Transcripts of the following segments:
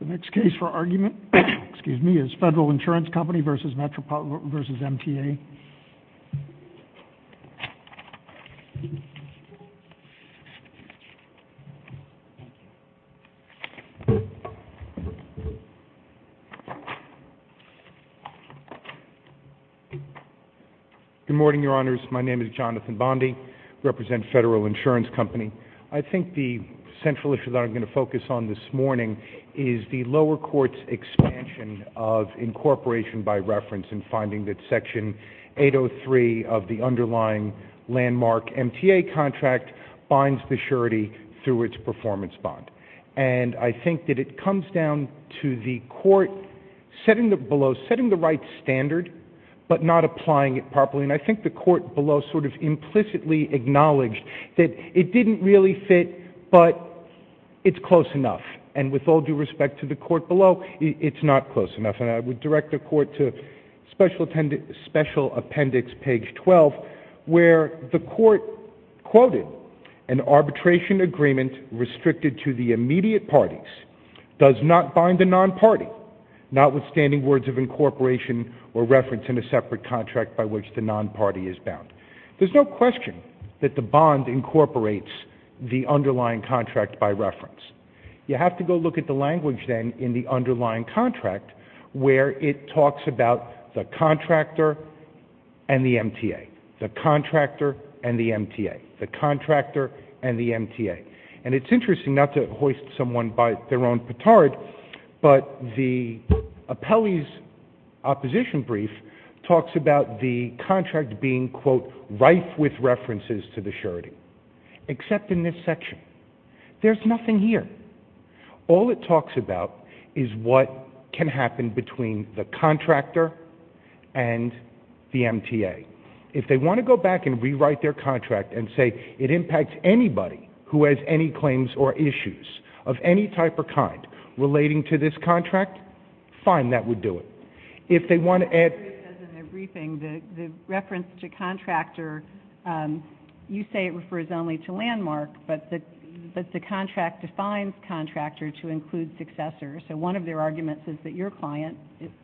The next case for argument is Federal Insurance Company v. Metropolitan v. MTA. Good morning, Your Honors. My name is Jonathan Bondi. I represent Federal Insurance Company. I think the central issue that I'm going to focus on this morning is the lower court's expansion of incorporation by reference in finding that Section 803 of the underlying landmark MTA contract binds the surety through its performance bond. And I think that it comes down to the court setting the right standard but not applying it properly. And I think the court below sort of implicitly acknowledged that it didn't really fit, but it's close enough. And with all due respect to the court below, it's not close enough. And I would direct the court to Special Appendix, page 12, where the court quoted, an arbitration agreement restricted to the immediate parties does not bind the non-party, but notwithstanding words of incorporation or reference in a separate contract by which the non-party is bound. There's no question that the bond incorporates the underlying contract by reference. You have to go look at the language then in the underlying contract where it talks about the contractor and the MTA. The contractor and the MTA. The contractor and the MTA. And it's interesting not to hoist someone by their own petard, but the appellee's opposition brief talks about the contract being, quote, rife with references to the surety, except in this section. There's nothing here. All it talks about is what can happen between the contractor and the MTA. If they want to go back and rewrite their contract and say it impacts anybody who has any claims or issues of any type or kind relating to this contract, fine, that would do it. If they want to add to it. In the briefing, the reference to contractor, you say it refers only to landmark, but the contract defines contractor to include successor. So one of their arguments is that your client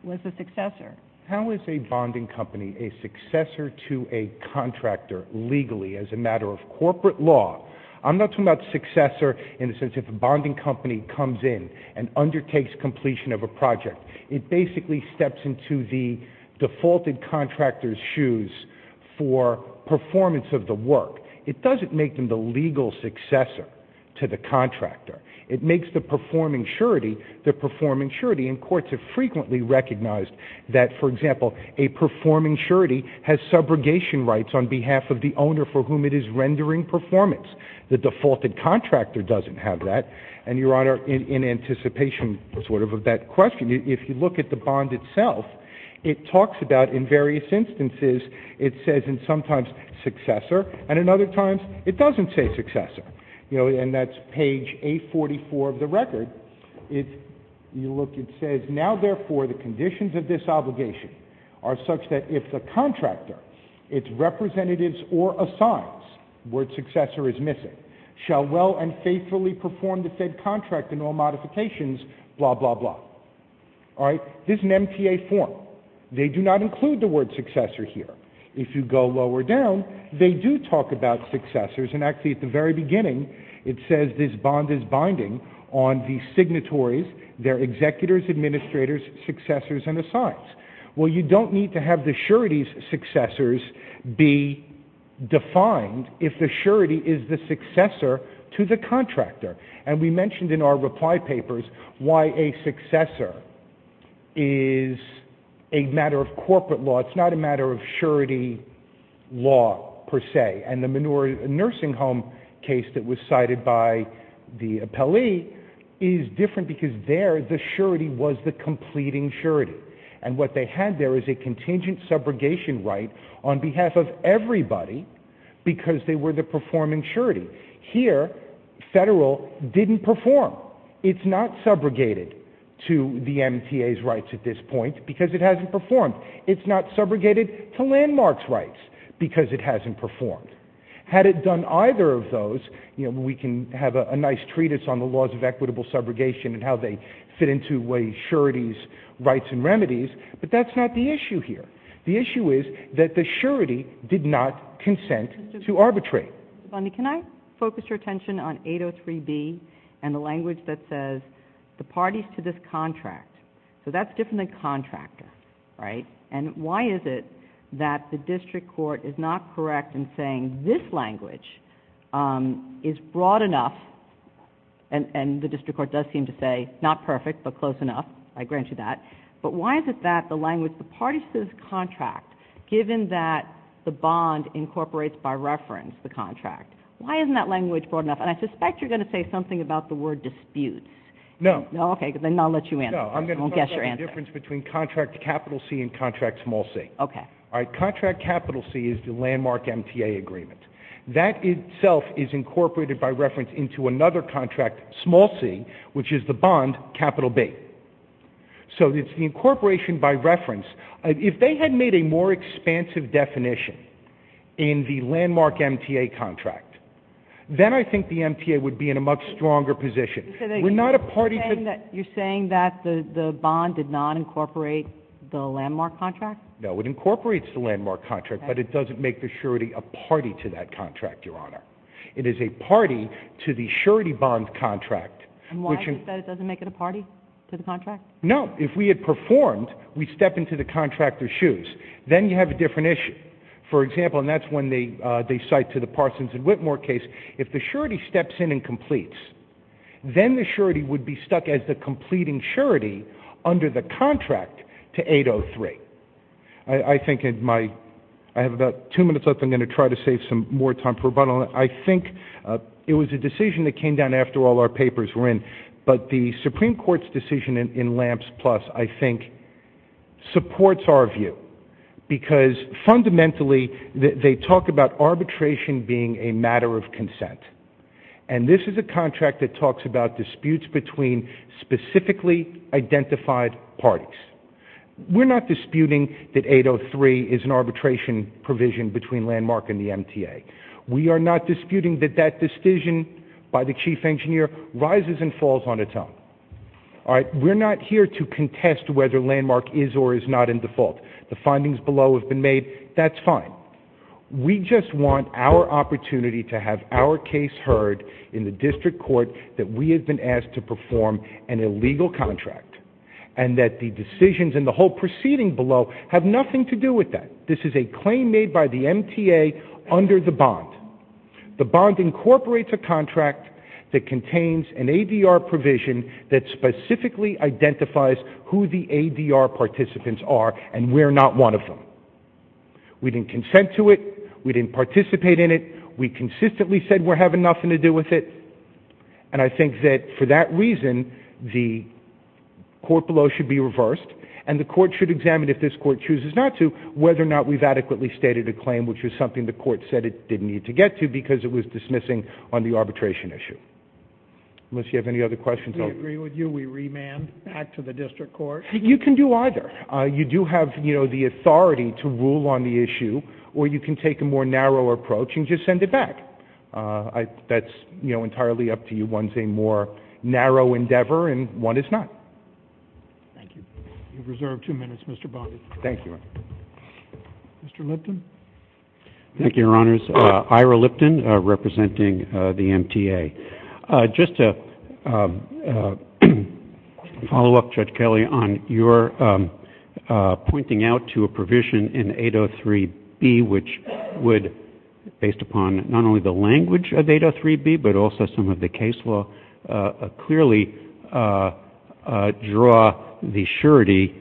was a successor. How is a bonding company a successor to a contractor legally as a matter of corporate law? I'm not talking about successor in the sense of a bonding company comes in and undertakes completion of a project. It basically steps into the defaulted contractor's shoes for performance of the work. It doesn't make them the legal successor to the contractor. It makes the performing surety the performing surety. And courts have frequently recognized that, for example, a performing surety has subrogation rights on behalf of the owner for whom it is rendering performance. The defaulted contractor doesn't have that. And, Your Honor, in anticipation sort of of that question, if you look at the bond itself, it talks about in various instances it says and sometimes successor, and in other times it doesn't say successor. You know, and that's page 844 of the record. If you look, it says, now, therefore, the conditions of this obligation are such that if the contractor, its representatives or assigns, word successor is missing, shall well and faithfully perform the said contract and all modifications, blah, blah, blah. All right? This is an MTA form. They do not include the word successor here. If you go lower down, they do talk about successors, and actually at the very beginning it says this bond is binding on the signatories, their executors, administrators, successors, and assigns. Well, you don't need to have the surety's successors be defined if the surety is the successor to the contractor. And we mentioned in our reply papers why a successor is a matter of corporate law. It's not a matter of surety law per se. And the nursing home case that was cited by the appellee is different because there the surety was the completing surety. And what they had there is a contingent subrogation right on behalf of everybody because they were the performing surety. Here, federal didn't perform. It's not subrogated to the MTA's rights at this point because it hasn't performed. It's not subrogated to landmark's rights because it hasn't performed. Had it done either of those, you know, we can have a nice treatise on the laws of equitable subrogation and how they fit into a surety's rights and remedies, but that's not the issue here. The issue is that the surety did not consent to arbitrate. Mr. Bundy, can I focus your attention on 803B and the language that says the parties to this contract? So that's different than contractor, right? And why is it that the district court is not correct in saying this language is broad enough and the district court does seem to say not perfect but close enough, I grant you that, but why is it that the language the parties to this contract, given that the bond incorporates by reference the contract, why isn't that language broad enough? And I suspect you're going to say something about the word dispute. No. Okay, then I'll let you answer. No, I'm going to talk about the difference between contract capital C and contract small c. Okay. All right, contract capital C is the landmark MTA agreement. That itself is incorporated by reference into another contract, small c, which is the bond, capital B. So it's the incorporation by reference. If they had made a more expansive definition in the landmark MTA contract, then I think the MTA would be in a much stronger position. You're saying that the bond did not incorporate the landmark contract? No, it incorporates the landmark contract, but it doesn't make the surety a party to that contract, Your Honor. It is a party to the surety bond contract. And why is it that it doesn't make it a party to the contract? No, if we had performed, we step into the contractor's shoes, then you have a different issue. For example, and that's when they cite to the Parsons and Whitmore case, if the surety steps in and completes, then the surety would be stuck as the completing surety under the contract to 803. I have about two minutes left. I'm going to try to save some more time for rebuttal. I think it was a decision that came down after all our papers were in, but the Supreme Court's decision in LAMPS Plus, I think, supports our view, because fundamentally they talk about arbitration being a matter of consent. And this is a contract that talks about disputes between specifically identified parties. We're not disputing that 803 is an arbitration provision between landmark and the MTA. We are not disputing that that decision by the chief engineer rises and falls on its own. All right? We're not here to contest whether landmark is or is not in default. The findings below have been made. That's fine. We just want our opportunity to have our case heard in the district court that we have been asked to perform an illegal contract and that the decisions and the whole proceeding below have nothing to do with that. This is a claim made by the MTA under the bond. The bond incorporates a contract that contains an ADR provision that specifically identifies who the ADR participants are, and we're not one of them. We didn't consent to it. We didn't participate in it. We consistently said we're having nothing to do with it. And I think that for that reason, the court below should be reversed, and the court should examine, if this court chooses not to, whether or not we've adequately stated a claim, which was something the court said it didn't need to get to because it was dismissing on the arbitration issue. Unless you have any other questions. We agree with you. We remand back to the district court. You can do either. You do have, you know, the authority to rule on the issue, or you can take a more narrow approach and just send it back. That's, you know, entirely up to you. One's a more narrow endeavor, and one is not. Thank you. You've reserved two minutes, Mr. Bondi. Thank you. Mr. Lipton. Thank you, Your Honors. Ira Lipton, representing the MTA. Just to follow up, Judge Kelly, on your pointing out to a provision in 803B, which would, based upon not only the language of 803B, but also some of the case law, clearly draw the surety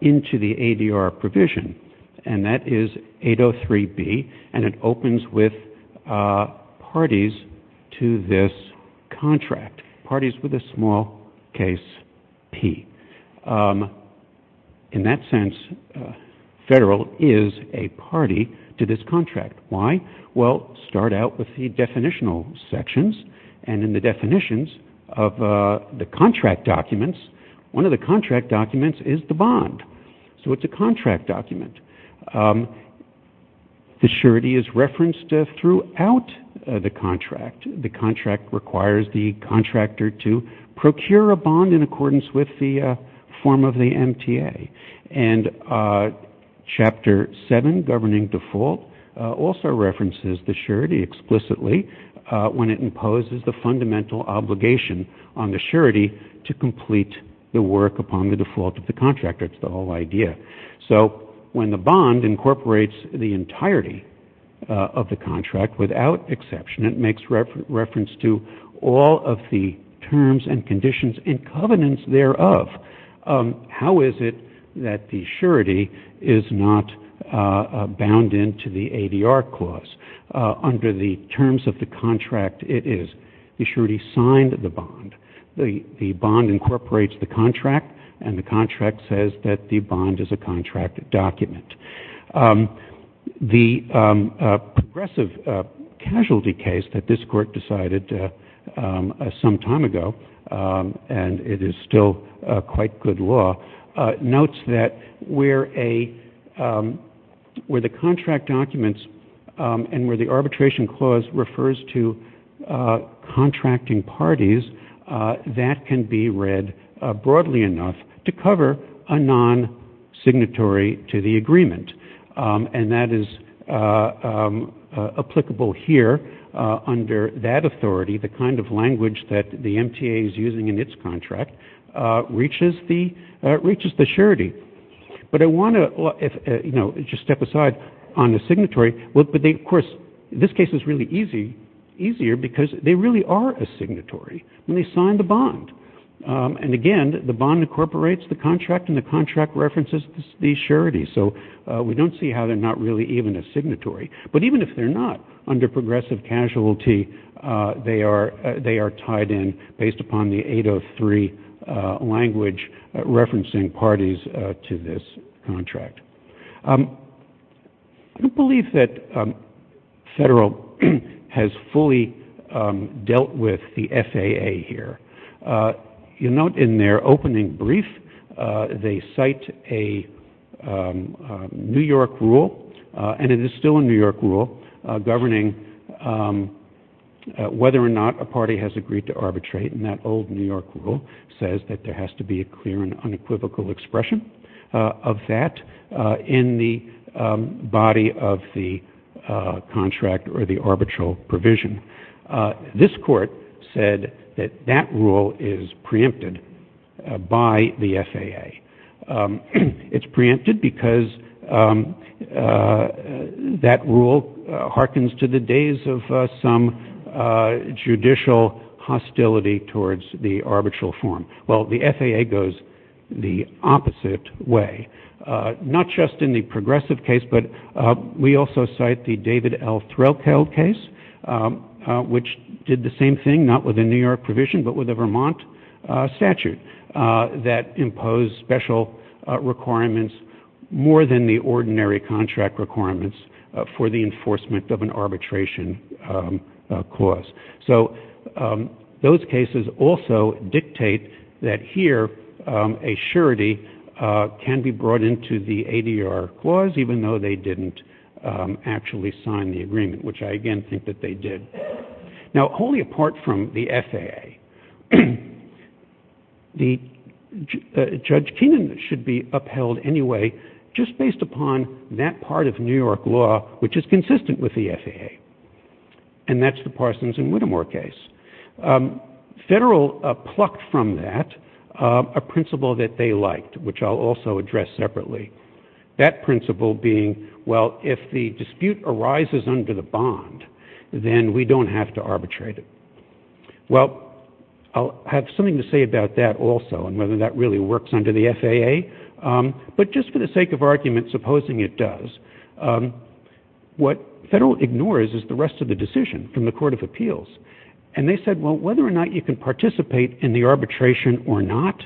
into the ADR provision. And that is 803B, and it opens with parties to this contract, parties with a small case P. In that sense, federal is a party to this contract. Why? Well, start out with the definitional sections, and in the definitions of the contract documents, one of the contract documents is the bond. So it's a contract document. The surety is referenced throughout the contract. The contract requires the contractor to procure a bond in accordance with the form of the MTA. And Chapter 7, Governing Default, also references the surety explicitly when it imposes the fundamental obligation on the surety to complete the work upon the default of the contractor. It's the whole idea. So when the bond incorporates the entirety of the contract, without exception, it makes reference to all of the terms and conditions and covenants thereof. How is it that the surety is not bound into the ADR clause? Under the terms of the contract, it is. The surety signed the bond. The bond incorporates the contract, and the contract says that the bond is a contract document. The progressive casualty case that this Court decided some time ago, and it is still quite good law, notes that where the contract documents and where the arbitration clause refers to contracting parties, that can be read broadly enough to cover a non-signatory to the agreement. And that is applicable here under that authority, the kind of language that the MTA is using in its contract reaches the surety. But I want to just step aside on the signatory. Of course, this case is really easier because they really are a signatory, and they signed the bond. And again, the bond incorporates the contract, and the contract references the surety. So we don't see how they're not really even a signatory. But even if they're not, under progressive casualty, they are tied in based upon the 803 language referencing parties to this contract. I don't believe that Federal has fully dealt with the FAA here. You'll note in their opening brief, they cite a New York rule, and it is still a New York rule, governing whether or not a party has agreed to arbitrate. And that old New York rule says that there has to be a clear and unequivocal expression of that in the body of the contract or the arbitral provision. This court said that that rule is preempted by the FAA. It's preempted because that rule hearkens to the days of some judicial hostility towards the arbitral form. Well, the FAA goes the opposite way, not just in the progressive case, but we also cite the David L. Threlkeld case. Which did the same thing, not with a New York provision, but with a Vermont statute that imposed special requirements more than the ordinary contract requirements for the enforcement of an arbitration clause. So those cases also dictate that here a surety can be brought into the ADR clause, even though they didn't actually sign the agreement, which I again think that they did. Now wholly apart from the FAA, Judge Keenan should be upheld anyway just based upon that part of New York law which is consistent with the FAA. And that's the Parsons and Whittemore case. Federal plucked from that a principle that they liked, which I'll also address separately. That principle being, well, if the dispute arises under the bond, then we don't have to arbitrate it. Well, I'll have something to say about that also and whether that really works under the FAA. But just for the sake of argument, supposing it does, what federal ignores is the rest of the decision from the Court of Appeals. And they said, well, whether or not you can participate in the arbitration or not,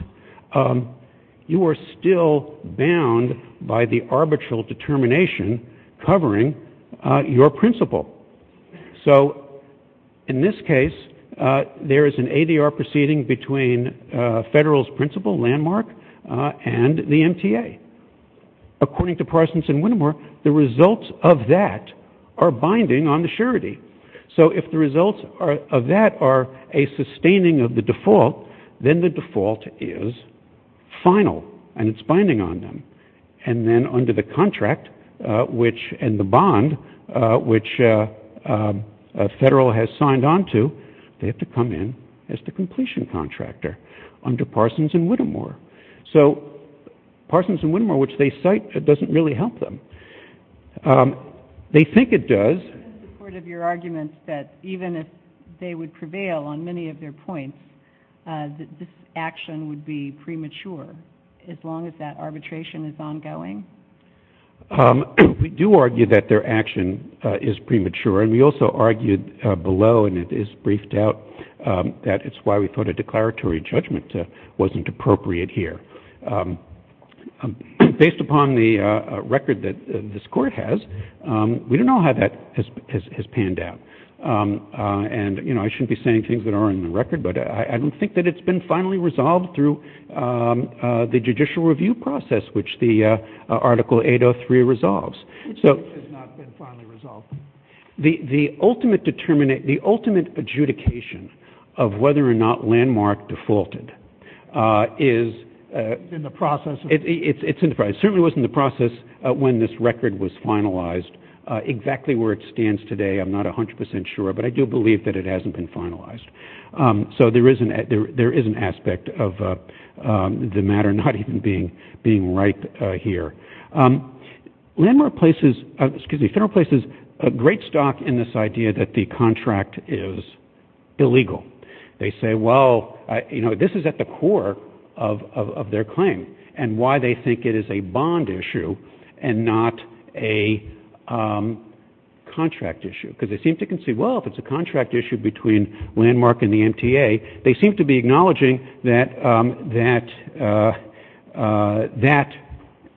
you are still bound by the arbitral determination covering your principle. So in this case, there is an ADR proceeding between federal's principle landmark and the MTA. According to Parsons and Whittemore, the results of that are binding on the surety. So if the results of that are a sustaining of the default, then the default is final and it's binding on them. And then under the contract and the bond which a federal has signed on to, they have to come in as the completion contractor under Parsons and Whittemore. So Parsons and Whittemore, which they cite, it doesn't really help them. They think it does. I'm in support of your argument that even if they would prevail on many of their points, that this action would be premature as long as that arbitration is ongoing. We do argue that their action is premature. And we also argued below, and it is briefed out, that it's why we thought a declaratory judgment wasn't appropriate here. Based upon the record that this Court has, we don't know how that has panned out. And I shouldn't be saying things that aren't in the record, but I don't think that it's been finally resolved through the judicial review process, which the Article 803 resolves. It has not been finally resolved. The ultimate adjudication of whether or not Landmark defaulted is in the process. It certainly was in the process when this record was finalized. Exactly where it stands today, I'm not 100% sure, but I do believe that it hasn't been finalized. So there is an aspect of the matter not even being right here. Landmark places a great stock in this idea that the contract is illegal. They say, well, this is at the core of their claim, and why they think it is a bond issue and not a contract issue. Because they seem to concede, well, if it's a contract issue between Landmark and the MTA, they seem to be acknowledging that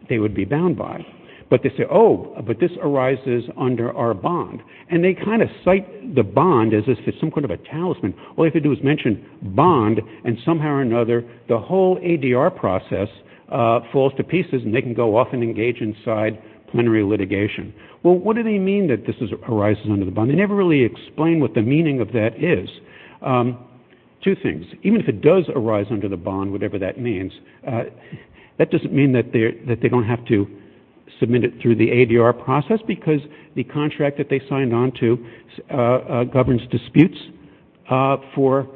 they would be bound by it. But they say, oh, but this arises under our bond. And they kind of cite the bond as if it's some kind of a talisman. All they have to do is mention bond, and somehow or another, the whole ADR process falls to pieces, and they can go off and engage inside plenary litigation. Well, what do they mean that this arises under the bond? They never really explain what the meaning of that is. Two things. Even if it does arise under the bond, whatever that means, that doesn't mean that they don't have to submit it through the ADR process, because the contract that they signed on to governs disputes for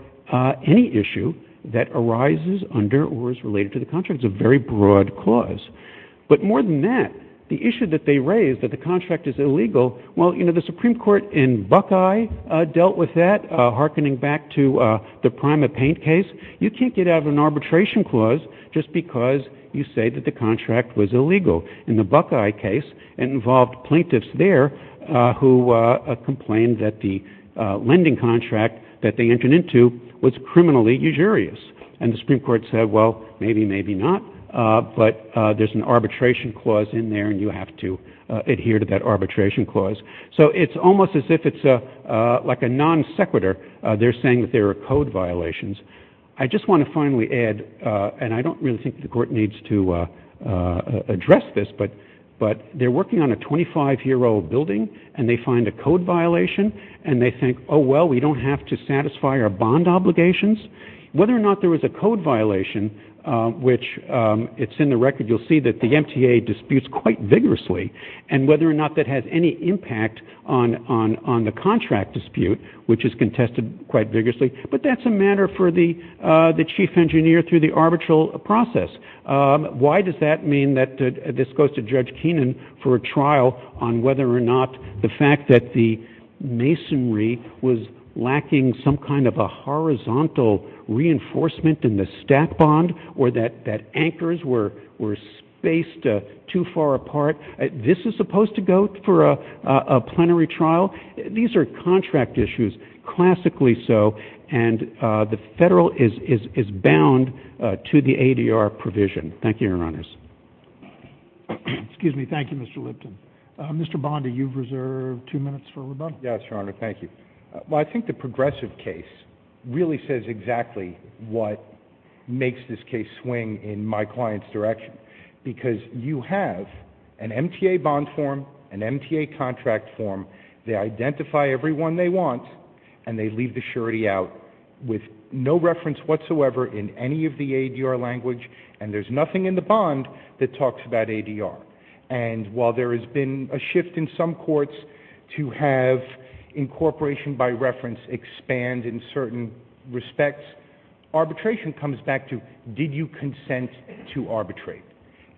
any issue that arises under or is related to the contract. It's a very broad clause. But more than that, the issue that they raise, that the contract is illegal, well, you know, the Supreme Court in Buckeye dealt with that, hearkening back to the Primate Paint case. You can't get out of an arbitration clause just because you say that the contract was illegal. In the Buckeye case, it involved plaintiffs there who complained that the lending contract that they entered into was criminally usurious. And the Supreme Court said, well, maybe, maybe not. But there's an arbitration clause in there, and you have to adhere to that arbitration clause. So it's almost as if it's like a non sequitur. They're saying that there are code violations. I just want to finally add, and I don't really think the court needs to address this, but they're working on a 25-year-old building, and they find a code violation. And they think, oh, well, we don't have to satisfy our bond obligations. Whether or not there was a code violation, which it's in the record, you'll see that the MTA disputes quite vigorously, and whether or not that has any impact on the contract dispute, which is contested quite vigorously, but that's a matter for the chief engineer through the arbitral process. Why does that mean that this goes to Judge Keenan for a trial on whether or not the fact that the masonry was lacking some kind of a horizontal reinforcement in the stack bond or that anchors were spaced too far apart, this is supposed to go for a plenary trial? These are contract issues, classically so, and the Federal is bound to the ADR provision. Thank you, Your Honors. Excuse me. Thank you, Mr. Lipton. Mr. Bondi, you've reserved two minutes for rebuttal. Yes, Your Honor. Thank you. Well, I think the progressive case really says exactly what makes this case swing in my client's direction, because you have an MTA bond form, an MTA contract form, they identify everyone they want, and they leave the surety out with no reference whatsoever in any of the ADR language, and there's nothing in the bond that talks about ADR. And while there has been a shift in some courts to have incorporation by reference expand in certain respects, arbitration comes back to did you consent to arbitrate,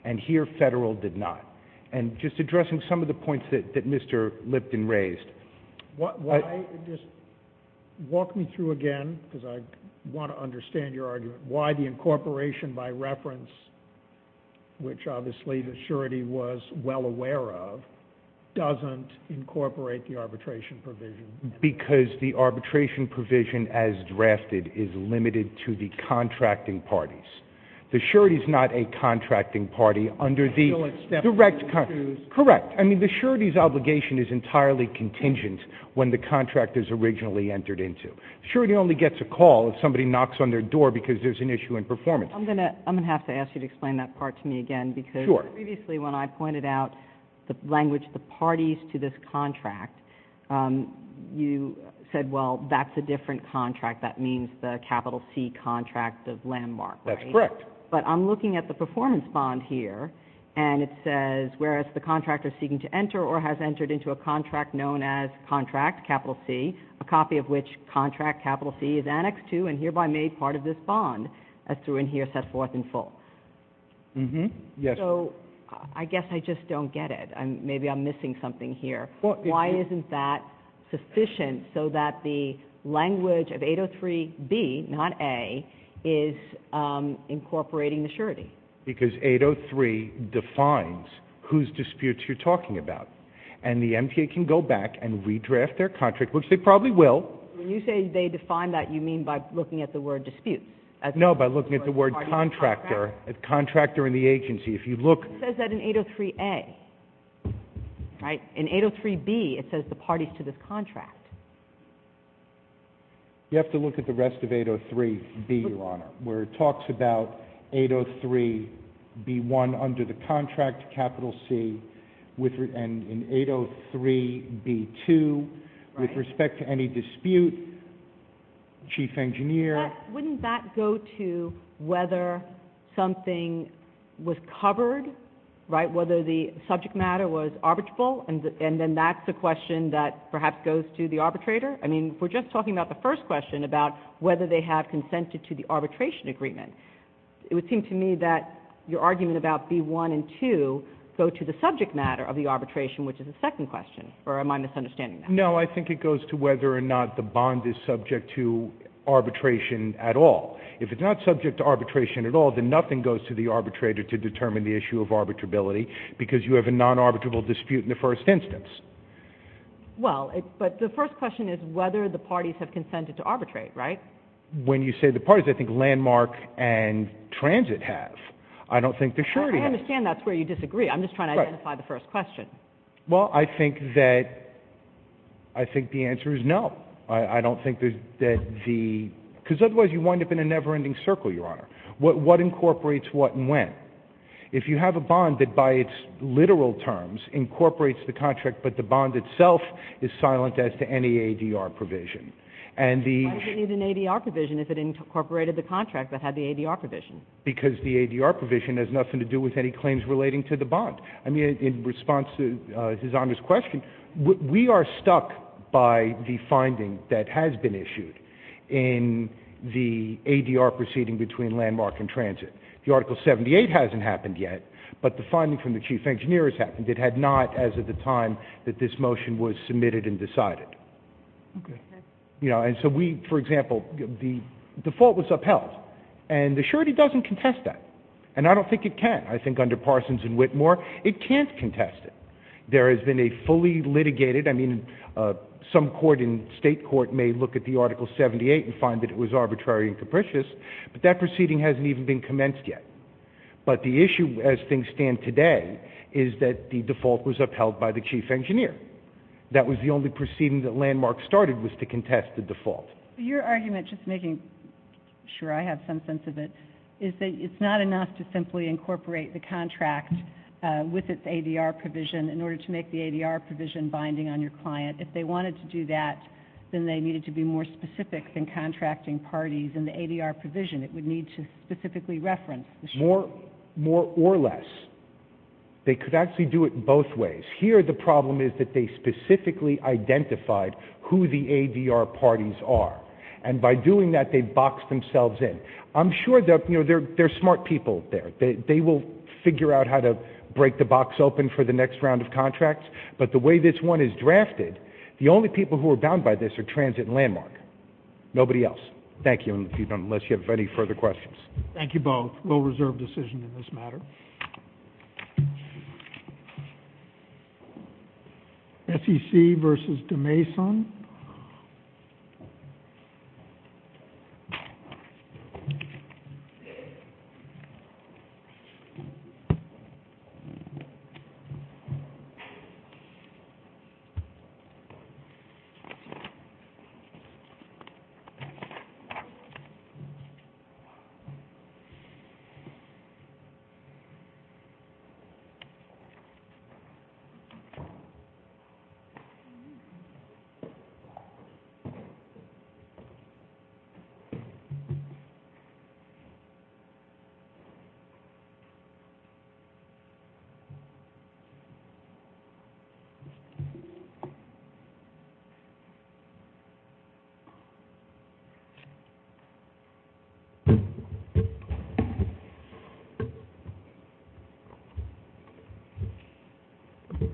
and here Federal did not. And just addressing some of the points that Mr. Lipton raised. Walk me through again, because I want to understand your argument, why the incorporation by reference, which obviously the surety was well aware of, doesn't incorporate the arbitration provision. Because the arbitration provision as drafted is limited to the contracting parties. The surety is not a contracting party under the direct contract. Correct. I mean, the surety's obligation is entirely contingent when the contract is originally entered into. The surety only gets a call if somebody knocks on their door because there's an issue in performance. I'm going to have to ask you to explain that part to me again, because previously when I pointed out the language, the parties to this contract, you said, well, that's a different contract. That means the capital C contract of landmark, right? That's correct. But I'm looking at the performance bond here, and it says, whereas the contractor seeking to enter or has entered into a contract known as contract capital C, a copy of which contract capital C is annexed to and hereby made part of this bond, as through in here set forth in full. Yes. So I guess I just don't get it. Maybe I'm missing something here. Why isn't that sufficient so that the language of 803B, not A, is incorporating the surety? Because 803 defines whose disputes you're talking about, and the MTA can go back and redraft their contract, which they probably will. When you say they define that, you mean by looking at the word dispute? No, by looking at the word contractor, a contractor in the agency. It says that in 803A, right? In 803B, it says the parties to this contract. You have to look at the rest of 803B, Your Honor, where it talks about 803B1 under the contract capital C, and in 803B2, with respect to any dispute, chief engineer. Wouldn't that go to whether something was covered, right, whether the subject matter was arbitrable, and then that's a question that perhaps goes to the arbitrator? I mean, we're just talking about the first question, about whether they have consented to the arbitration agreement. It would seem to me that your argument about B1 and 2 go to the subject matter of the arbitration, which is the second question, or am I misunderstanding that? No, I think it goes to whether or not the bond is subject to arbitration at all. If it's not subject to arbitration at all, then nothing goes to the arbitrator to determine the issue of arbitrability, because you have a non-arbitrable dispute in the first instance. Well, but the first question is whether the parties have consented to arbitrate, right? When you say the parties, I think Landmark and Transit have. I don't think they're sure yet. I understand that's where you disagree. I'm just trying to identify the first question. Well, I think that the answer is no. I don't think that the — because otherwise you wind up in a never-ending circle, Your Honor. What incorporates what and when? If you have a bond that by its literal terms incorporates the contract, but the bond itself is silent as to any ADR provision, and the — Why does it need an ADR provision if it incorporated the contract that had the ADR provision? Because the ADR provision has nothing to do with any claims relating to the bond. I mean, in response to His Honor's question, we are stuck by the finding that has been issued in the ADR proceeding between Landmark and Transit. The Article 78 hasn't happened yet, but the finding from the chief engineer has happened. It had not as of the time that this motion was submitted and decided. Okay. You know, and so we — for example, the default was upheld, and the surety doesn't contest that. And I don't think it can. I think under Parsons and Whitmore it can't contest it. There has been a fully litigated — I mean, some court in state court may look at the Article 78 and find that it was arbitrary and capricious, but that proceeding hasn't even been commenced yet. But the issue as things stand today is that the default was upheld by the chief engineer. That was the only proceeding that Landmark started was to contest the default. Your argument, just making sure I have some sense of it, is that it's not enough to simply incorporate the contract with its ADR provision in order to make the ADR provision binding on your client. If they wanted to do that, then they needed to be more specific than contracting parties in the ADR provision. It would need to specifically reference the — More or less. They could actually do it both ways. Here the problem is that they specifically identified who the ADR parties are. And by doing that, they boxed themselves in. I'm sure they're smart people there. They will figure out how to break the box open for the next round of contracts. But the way this one is drafted, the only people who are bound by this are Transit and Landmark. Nobody else. Thank you, unless you have any further questions. Thank you both. Landmark will reserve decision in this matter. SEC versus Demason. Thank you. Thank you.